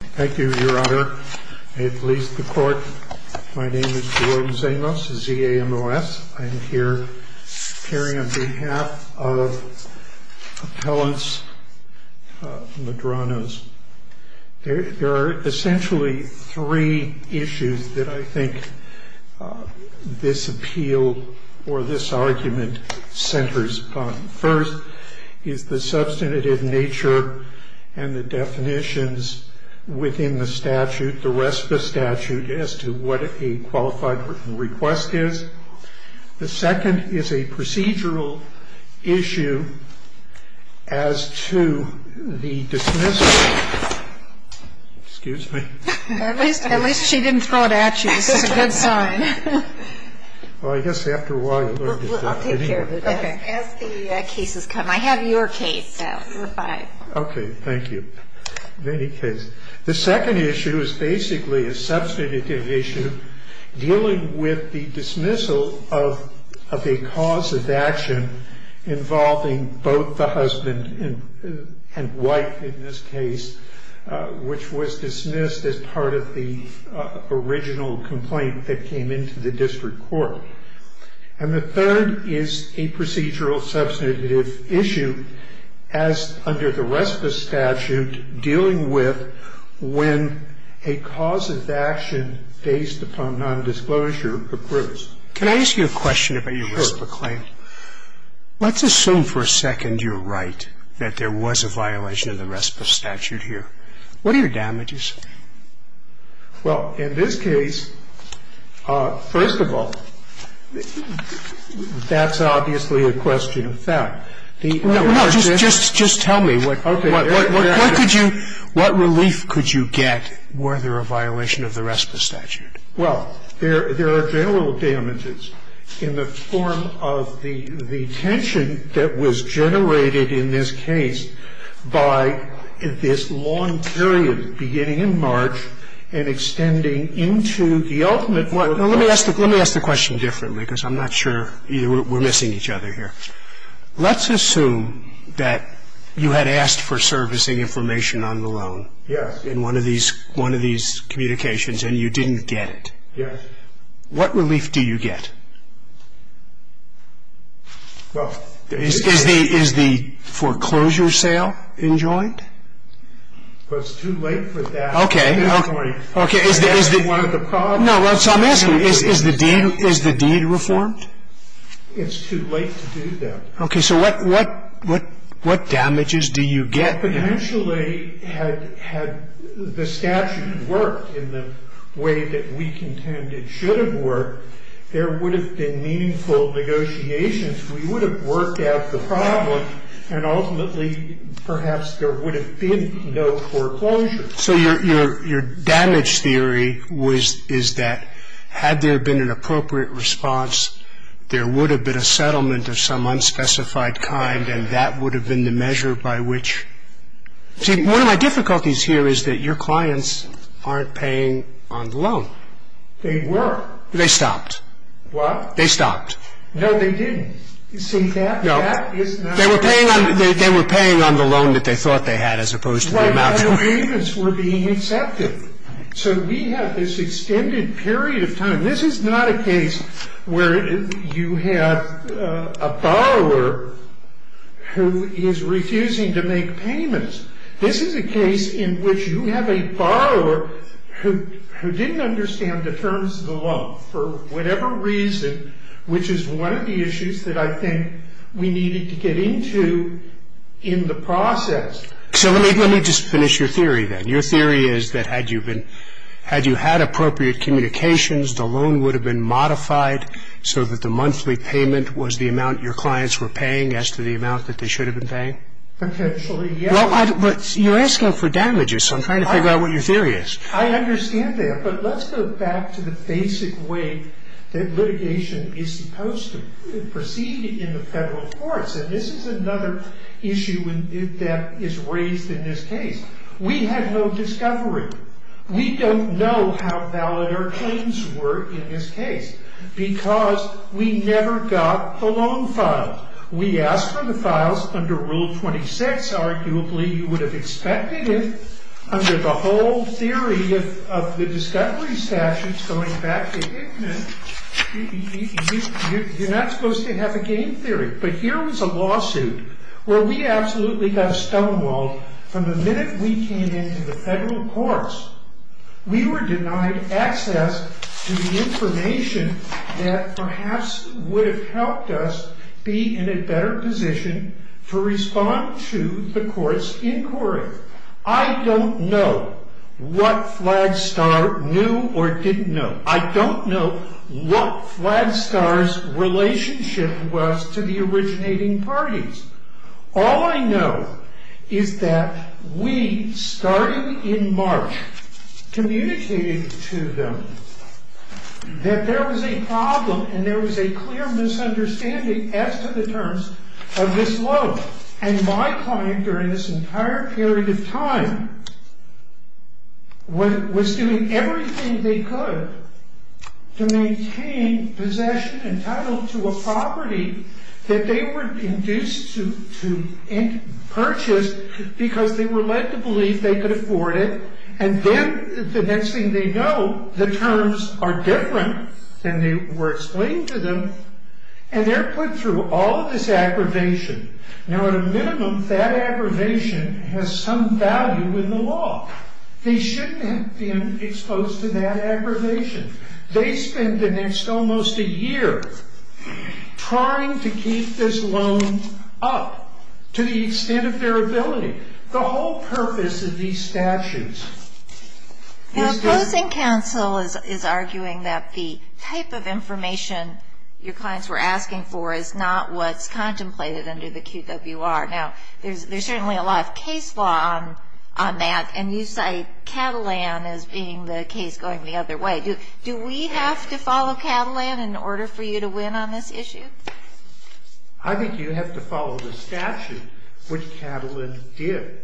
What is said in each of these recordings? Thank you, your honor. May it please the court. My name is Jerome Zamos, Z-A-M-O-S. I'm here appearing on behalf of appellants Medranos. There are essentially three issues that I think this appeal or this argument centers upon. The first is the substantive nature and the definitions within the statute, the RESPA statute, as to what a qualified request is. The second is a procedural issue as to the dismissal. Excuse me. At least she didn't throw it at you. This is a good sign. Well, I guess after a while... I'll take care of it. As the cases come. I have your case now. Okay, thank you. The second issue is basically a substantive issue dealing with the dismissal of a cause of action involving both the husband and wife in this case, which was dismissed as part of the original complaint that came into the district court. And the third is a procedural substantive issue as under the RESPA statute dealing with when a cause of action based upon nondisclosure occurs. Can I ask you a question about your RESPA claim? Sure. Let's assume for a second you're right, that there was a violation of the RESPA statute here. What are your damages? Well, in this case, first of all, that's obviously a question of fact. No, no. Just tell me what relief could you get were there a violation of the RESPA statute? Well, there are general damages in the form of the tension that was generated in this case by this long period beginning in March and extending into the ultimate one. Let me ask the question differently because I'm not sure. We're missing each other here. Let's assume that you had asked for servicing information on the loan. Yes. In one of these communications and you didn't get it. Yes. What relief do you get? Is the foreclosure sale enjoined? Well, it's too late for that. Okay. That's one of the problems. Is the deed reformed? It's too late to do that. Okay. So what damages do you get? Well, potentially, had the statute worked in the way that we contend it should have worked, there would have been meaningful negotiations. We would have worked out the problem, and ultimately, perhaps there would have been no foreclosure. So your damage theory is that had there been an appropriate response, there would have been a settlement of some unspecified kind, and that would have been the measure by which. See, one of my difficulties here is that your clients aren't paying on the loan. They were. They stopped. What? They stopped. No, they didn't. See, that is not. No. They were paying on the loan that they thought they had as opposed to the amount. Right. Their payments were being accepted. So we have this extended period of time. This is not a case where you have a borrower who is refusing to make payments. This is a case in which you have a borrower who didn't understand the terms of the loan for whatever reason, which is one of the issues that I think we needed to get into in the process. So let me just finish your theory then. Your theory is that had you had appropriate communications, the loan would have been modified so that the monthly payment was the amount your clients were paying as to the amount that they should have been paying? Potentially, yes. But you're asking for damages, so I'm trying to figure out what your theory is. I understand that, but let's go back to the basic way that litigation is supposed to proceed in the federal courts, and this is another issue that is raised in this case. We had no discovery. We don't know how valid our claims were in this case because we never got the loan files. We asked for the files under Rule 26. Arguably, you would have expected it under the whole theory of the discovery statutes going back to Hickman. You're not supposed to have a game theory. But here was a lawsuit where we absolutely got stonewalled from the minute we came into the federal courts. We were denied access to the information that perhaps would have helped us be in a better position to respond to the court's inquiry. I don't know what Flagstar knew or didn't know. I don't know what Flagstar's relationship was to the originating parties. All I know is that we, starting in March, communicated to them that there was a problem and there was a clear misunderstanding as to the terms of this loan, and my client during this entire period of time was doing everything they could to maintain possession entitled to a property that they were induced to purchase because they were led to believe they could afford it, and then the next thing they know, the terms are different than they were explained to them, and they're put through all this aggravation. Now, at a minimum, that aggravation has some value in the law. They shouldn't have been exposed to that aggravation. They spend the next almost a year trying to keep this loan up to the extent of their ability. The whole purpose of these statutes is to... The opposing counsel is arguing that the type of information your clients were asking for is not what's contemplated under the QWR. Now, there's certainly a lot of case law on that, and you cite Catalan as being the case going the other way. Do we have to follow Catalan in order for you to win on this issue? I think you have to follow the statute, which Catalan did.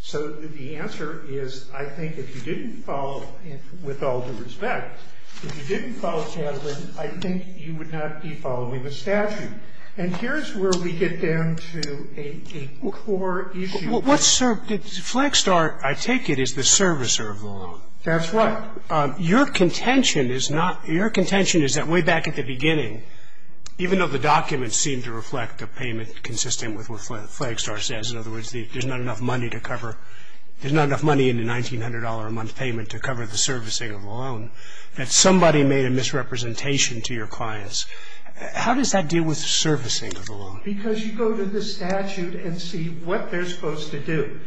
So the answer is I think if you didn't follow, and with all due respect, if you didn't follow Catalan, I think you would not be following the statute. And here's where we get down to a core issue. What's served as a flag star, I take it, is the servicer of the law. That's right. Your contention is not – your contention is that way back at the beginning, even though the documents seem to reflect a payment consistent with what the flag star says, in other words, there's not enough money to cover – there's not enough money in the $1,900-a-month payment to cover the servicing of the loan, that somebody made a misrepresentation to your clients. How does that deal with servicing of the loan? Because you go to the statute and see what they're supposed to do.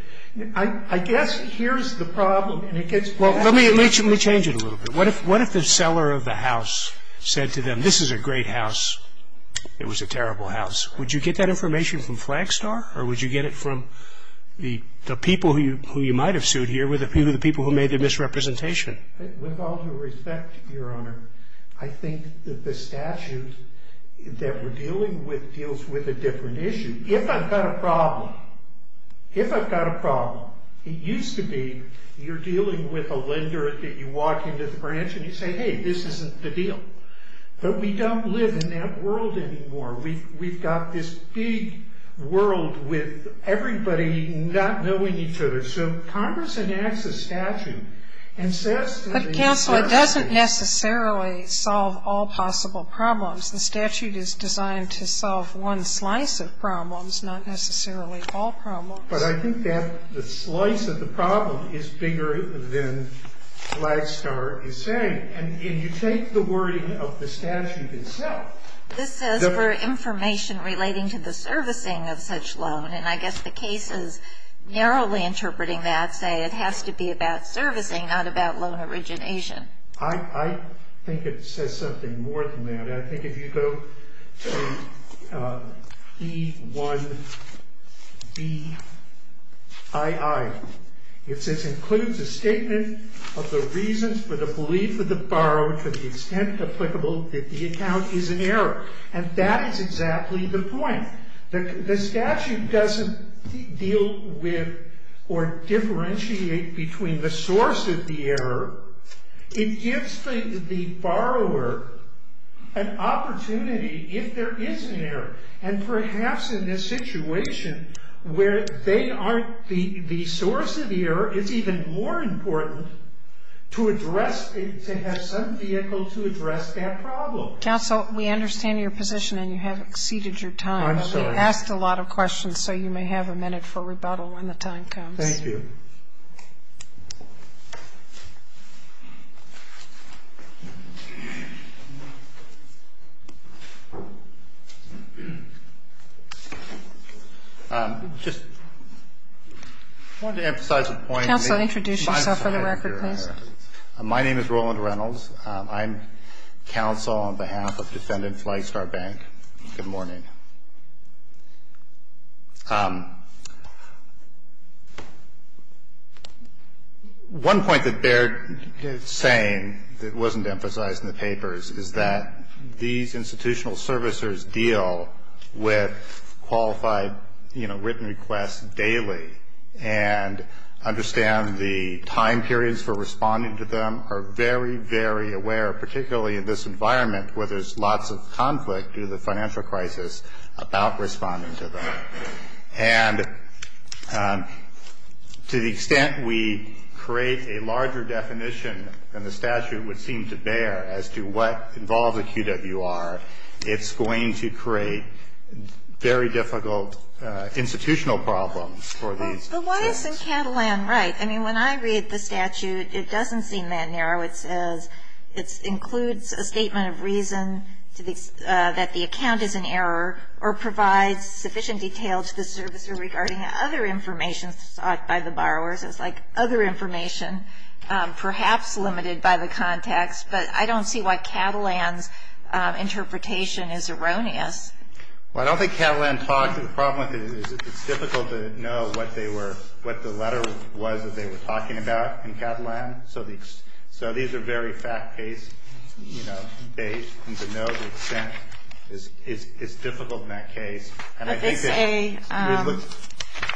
I guess here's the problem, and it gets – Well, let me change it a little bit. What if the seller of the house said to them, this is a great house, it was a terrible house? Would you get that information from flag star, or would you get it from the people who you might have sued here were the people who made the misrepresentation? With all due respect, Your Honor, I think that the statute that we're dealing with deals with a different issue. If I've got a problem, if I've got a problem, it used to be you're dealing with a lender that you walk into the branch and you say, hey, this isn't the deal. But we don't live in that world anymore. We've got this big world with everybody not knowing each other. So Congress enacts a statute and says – But, Counselor, it doesn't necessarily solve all possible problems. The statute is designed to solve one slice of problems, not necessarily all problems. But I think that the slice of the problem is bigger than flag star is saying. And you take the wording of the statute itself. This says for information relating to the servicing of such loan. And I guess the case is narrowly interpreting that, say it has to be about servicing, not about loan origination. I think it says something more than that. I think if you go to E-1-B-I-I, it says includes a statement of the reasons for the belief of the borrower to the extent applicable that the account is an error. And that is exactly the point. The statute doesn't deal with or differentiate between the source of the error. It gives the borrower an opportunity if there is an error. And perhaps in this situation where they aren't the source of the error, it's even more important to address – to have some vehicle to address that problem. Counsel, we understand your position and you have exceeded your time. I'm sorry. We've asked a lot of questions, so you may have a minute for rebuttal when the time comes. Thank you. Just wanted to emphasize a point. Counsel, introduce yourself for the record, please. My name is Roland Reynolds. I'm counsel on behalf of Defendant Flystar Bank. Good morning. Good morning. One point that Baird is saying that wasn't emphasized in the papers is that these institutional servicers deal with qualified written requests daily and understand the time periods for responding to them are very, very aware, particularly in this environment where there's lots of conflict due to the financial crisis, about responding to them. And to the extent we create a larger definition than the statute would seem to bear as to what involves a QWR, it's going to create very difficult institutional problems. But why isn't Catalan right? I mean, when I read the statute, it doesn't seem that narrow. It says it includes a statement of reason that the account is in error or provides sufficient detail to the servicer regarding other information sought by the borrower. So it's like other information, perhaps limited by the context. But I don't see why Catalan's interpretation is erroneous. Well, I don't think Catalan talked. The problem with it is it's difficult to know what the letter was that they were talking about in Catalan. So these are very fact-based, you know, and to know the extent is difficult in that case. But they say,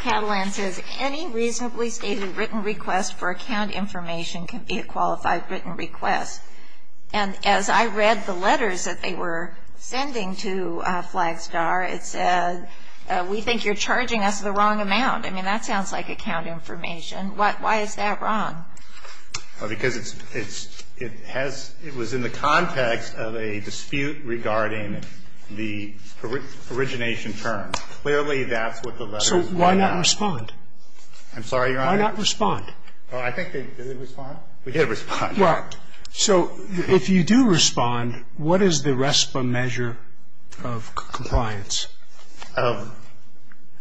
Catalan says, any reasonably stated written request for account information can be a qualified written request. And as I read the letters that they were sending to Flagstar, it said, we think you're charging us the wrong amount. I mean, that sounds like account information. Why is that wrong? Because it's, it has, it was in the context of a dispute regarding the origination terms. Clearly, that's what the letters were about. So why not respond? I'm sorry, Your Honor? Why not respond? I think they did respond. We did respond. Right. So if you do respond, what is the RESPA measure of compliance? Of?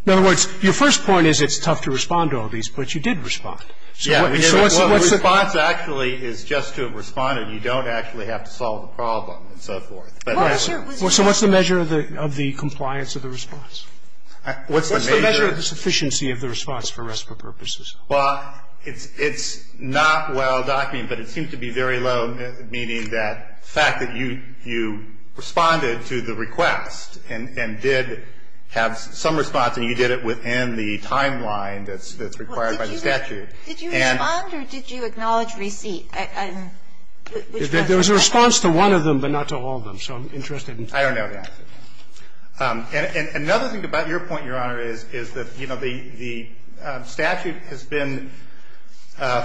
In other words, your first point is it's tough to respond to all these, but you did respond. Yeah. So what's the measure? The response actually is just to have responded. You don't actually have to solve the problem and so forth. So what's the measure of the compliance of the response? What's the measure? What's the measure of the sufficiency of the response for RESPA purposes? Well, it's not well-documented, but it seems to be very low, meaning that the fact that you responded to the request and did have some response and you did it within the timeline that's required by the statute. Did you respond or did you acknowledge receipt? There was a response to one of them but not to all of them, so I'm interested in that. I don't know that. And another thing about your point, Your Honor, is that, you know, the statute has been,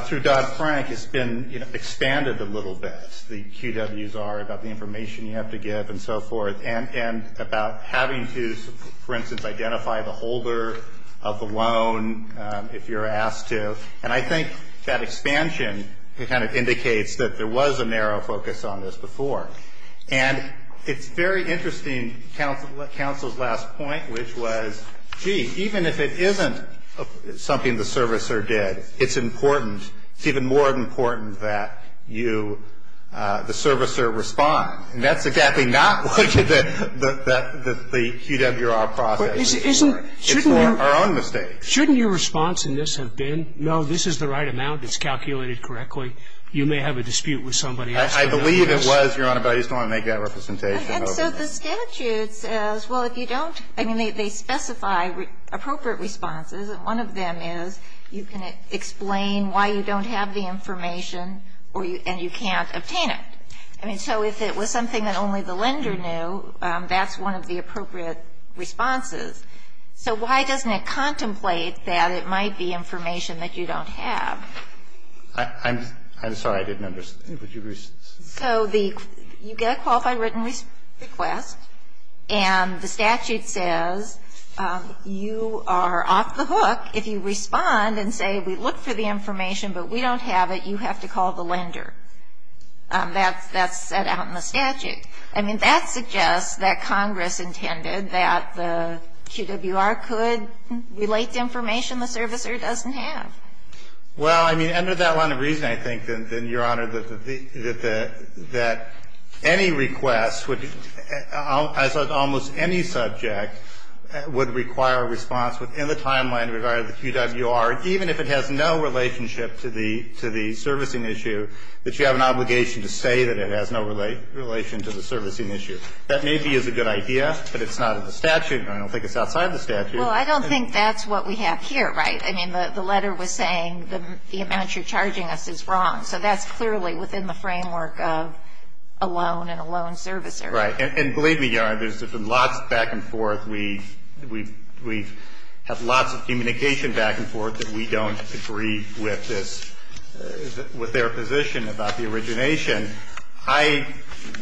through Dodd-Frank, has been expanded a little bit. The QWs are about the information you have to give and so forth, and about having to, for instance, identify the holder of the loan if you're asked to. And I think that expansion kind of indicates that there was a narrow focus on this before. And it's very interesting, counsel's last point, which was, gee, even if it isn't something the servicer did, it's important, it's even more important that you, the servicer respond. And that's exactly not what the QWR process is for. It's for our own mistakes. Shouldn't your response in this have been, no, this is the right amount. It's calculated correctly. You may have a dispute with somebody else. I believe it was, Your Honor, but I just want to make that representation. And so the statute says, well, if you don't, I mean, they specify appropriate responses, and one of them is you can explain why you don't have the information or you can't obtain it. I mean, so if it was something that only the lender knew, that's one of the appropriate responses. So why doesn't it contemplate that it might be information that you don't have? I'm sorry. I didn't understand. Would you respond? So the you get a qualified written request, and the statute says you are off the hook if you respond and say we look for the information, but we don't have it, you have to call the lender. That's set out in the statute. I mean, that suggests that Congress intended that the QWR could relate to information the servicer doesn't have. Well, I mean, under that line of reason, I think, then, Your Honor, that any request would be almost any subject would require a response within the timeline regarding the QWR, even if it has no relationship to the servicing issue, that you have an obligation to say that it has no relation to the servicing issue. That maybe is a good idea, but it's not in the statute, and I don't think it's outside the statute. Well, I don't think that's what we have here, right? I mean, the letter was saying the amount you're charging us is wrong. So that's clearly within the framework of a loan and a loan servicer. Right. And believe me, Your Honor, there's been lots of back and forth. We have lots of communication back and forth that we don't agree with this, with their position about the origination. I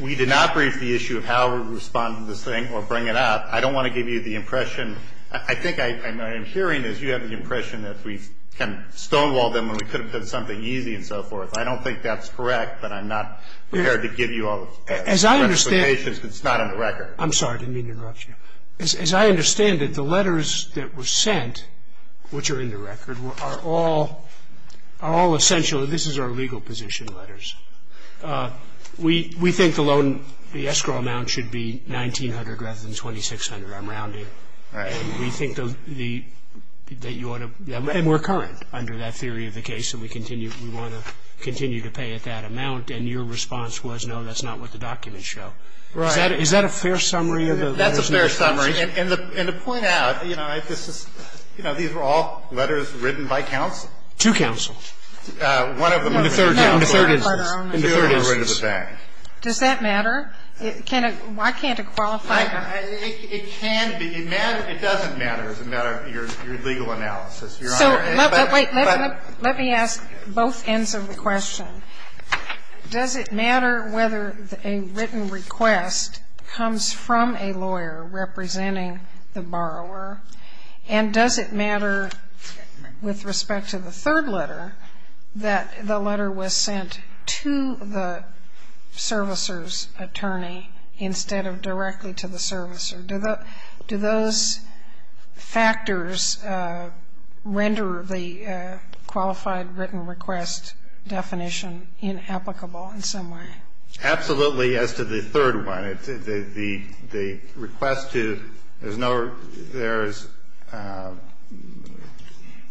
we did not brief the issue of how we respond to this thing or bring it up. I don't want to give you the impression. I think what I'm hearing is you have the impression that we've kind of stonewalled them and we could have done something easy and so forth. I don't think that's correct, but I'm not prepared to give you all the specifications because it's not on the record. I'm sorry. I didn't mean to interrupt you. As I understand it, the letters that were sent, which are in the record, are all essential. This is our legal position letters. We think the loan, the escrow amount should be $1,900 rather than $2,600. I'm rounding. And we think that you ought to – and we're current under that theory of the case that we want to continue to pay at that amount. And your response was, no, that's not what the documents show. Right. Is that a fair summary of the letters? That's a fair summary. And to point out, you know, these were all letters written by counsel. To counsel. One of them. In the third instance. In the third instance. Does that matter? Why can't it qualify? It can be. It matters. It doesn't matter as a matter of your legal analysis, Your Honor. Let me ask both ends of the question. Does it matter whether a written request comes from a lawyer representing the borrower? And does it matter with respect to the third letter that the letter was sent to the servicer? Do those factors render the qualified written request definition inapplicable in some way? Absolutely as to the third one. The request to – there's no – there's –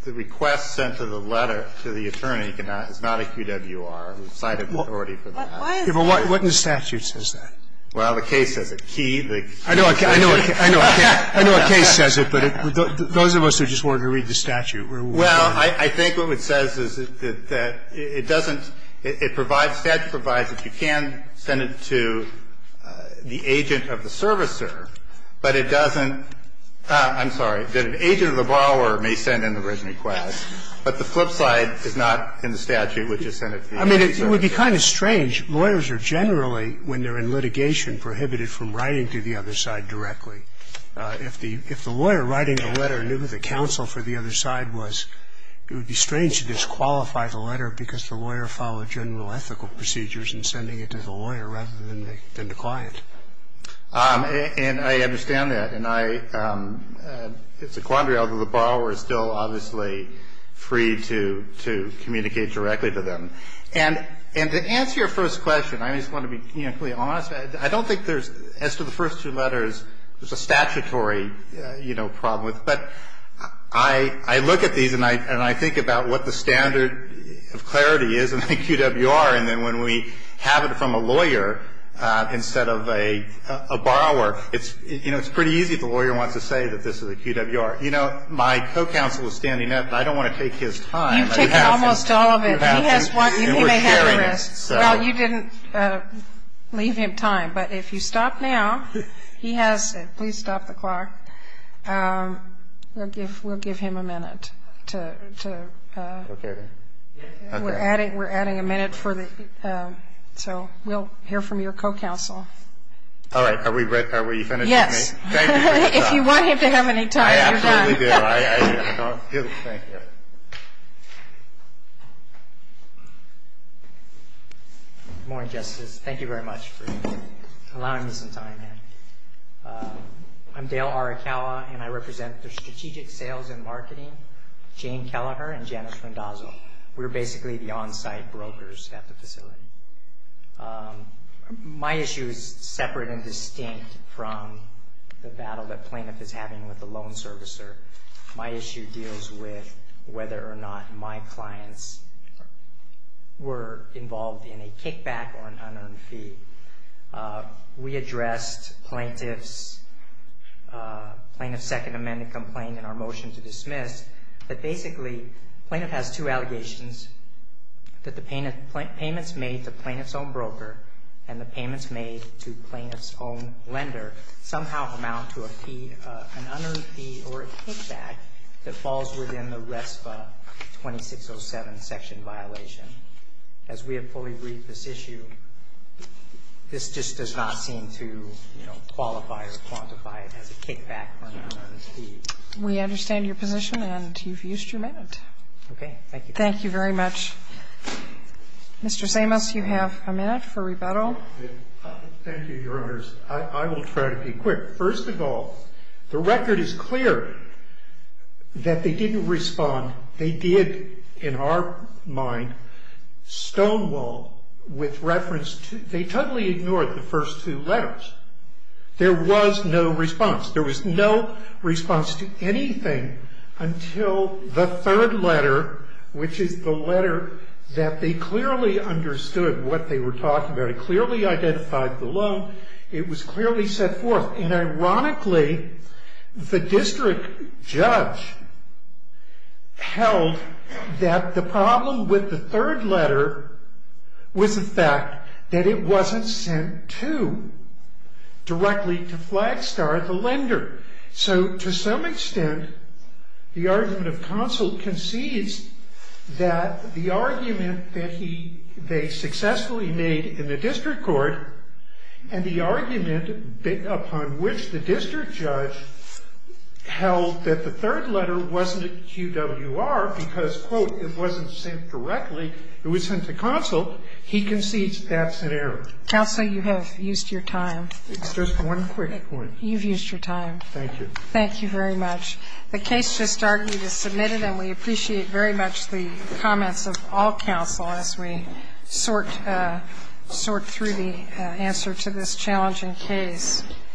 the request sent to the letter to the attorney is not a QWR. It's cited in the authority for that. Well, the case has a key. I know a case says it, but those of us who just wanted to read the statute. Well, I think what it says is that it doesn't – it provides, statute provides that you can send it to the agent of the servicer, but it doesn't – I'm sorry, that an agent of the borrower may send in the written request. But the flip side is not in the statute which has sent it to the agent of the servicer. I mean, it would be kind of strange. Lawyers are generally, when they're in litigation, prohibited from writing to the other side directly. If the lawyer writing the letter knew the counsel for the other side was – it would be strange to disqualify the letter because the lawyer followed general ethical procedures in sending it to the lawyer rather than the client. And I understand that. And I – it's a quandary, although the borrower is still obviously free to communicate directly to them. And to answer your first question, I just want to be completely honest. I don't think there's – as to the first two letters, there's a statutory, you know, problem with it. But I look at these and I think about what the standard of clarity is in the QWR, and then when we have it from a lawyer instead of a borrower, it's – you know, it's pretty easy if the lawyer wants to say that this is a QWR. You know, my co-counsel is standing up, but I don't want to take his time. You've taken almost all of it. He has one. He may have the rest. Well, you didn't leave him time. But if you stop now, he has – please stop the clock. We'll give him a minute to – we're adding a minute for the – so we'll hear from your co-counsel. All right. Are we – are we finished? Yes. Thank you very much. If you want him to have any time, you're welcome. I absolutely do. Thank you. Thank you. Good morning, Justice. Thank you very much for allowing me some time here. I'm Dale Arakawa, and I represent the Strategic Sales and Marketing, Jane Kelleher and Janice Mendoza. We're basically the on-site brokers at the facility. My issue is separate and distinct from the battle that plaintiff is having with the loan servicer. My issue deals with whether or not my clients were involved in a kickback or an unearned fee. We addressed plaintiff's – plaintiff's Second Amendment complaint in our motion to dismiss, but basically plaintiff has two allegations, that the payments made to plaintiff's own broker and the payments made to plaintiff's own lender somehow amount to a fee – an unearned fee or a kickback that falls within the RESPA 2607 section violation. As we have fully reviewed this issue, this just does not seem to, you know, qualify or quantify it as a kickback or an unearned fee. We understand your position, and you've used your minute. Okay. Thank you. Thank you very much. Mr. Samos, you have a minute for rebuttal. Thank you, Your Honors. I will try to be quick. First of all, the record is clear that they didn't respond. They did, in our mind, Stonewall with reference to – they totally ignored the first two letters. There was no response. There was no response to anything until the third letter, which is the letter that they clearly understood what they were talking about. It clearly identified the loan. It was clearly set forth. And ironically, the district judge held that the problem with the third letter was the fact that it wasn't sent to, directly to Flagstar, the lender. So, to some extent, the argument of counsel concedes that the argument that they successfully made in the district court and the argument upon which the district judge held that the third letter wasn't a QWR because, quote, it wasn't sent directly, it was sent to counsel, he concedes that's an error. Counsel, you have used your time. It's just one quick point. You've used your time. Thank you. Thank you very much. The case just argued is submitted, and we appreciate very much the comments of all counsel as we sort through the answer to this challenging case.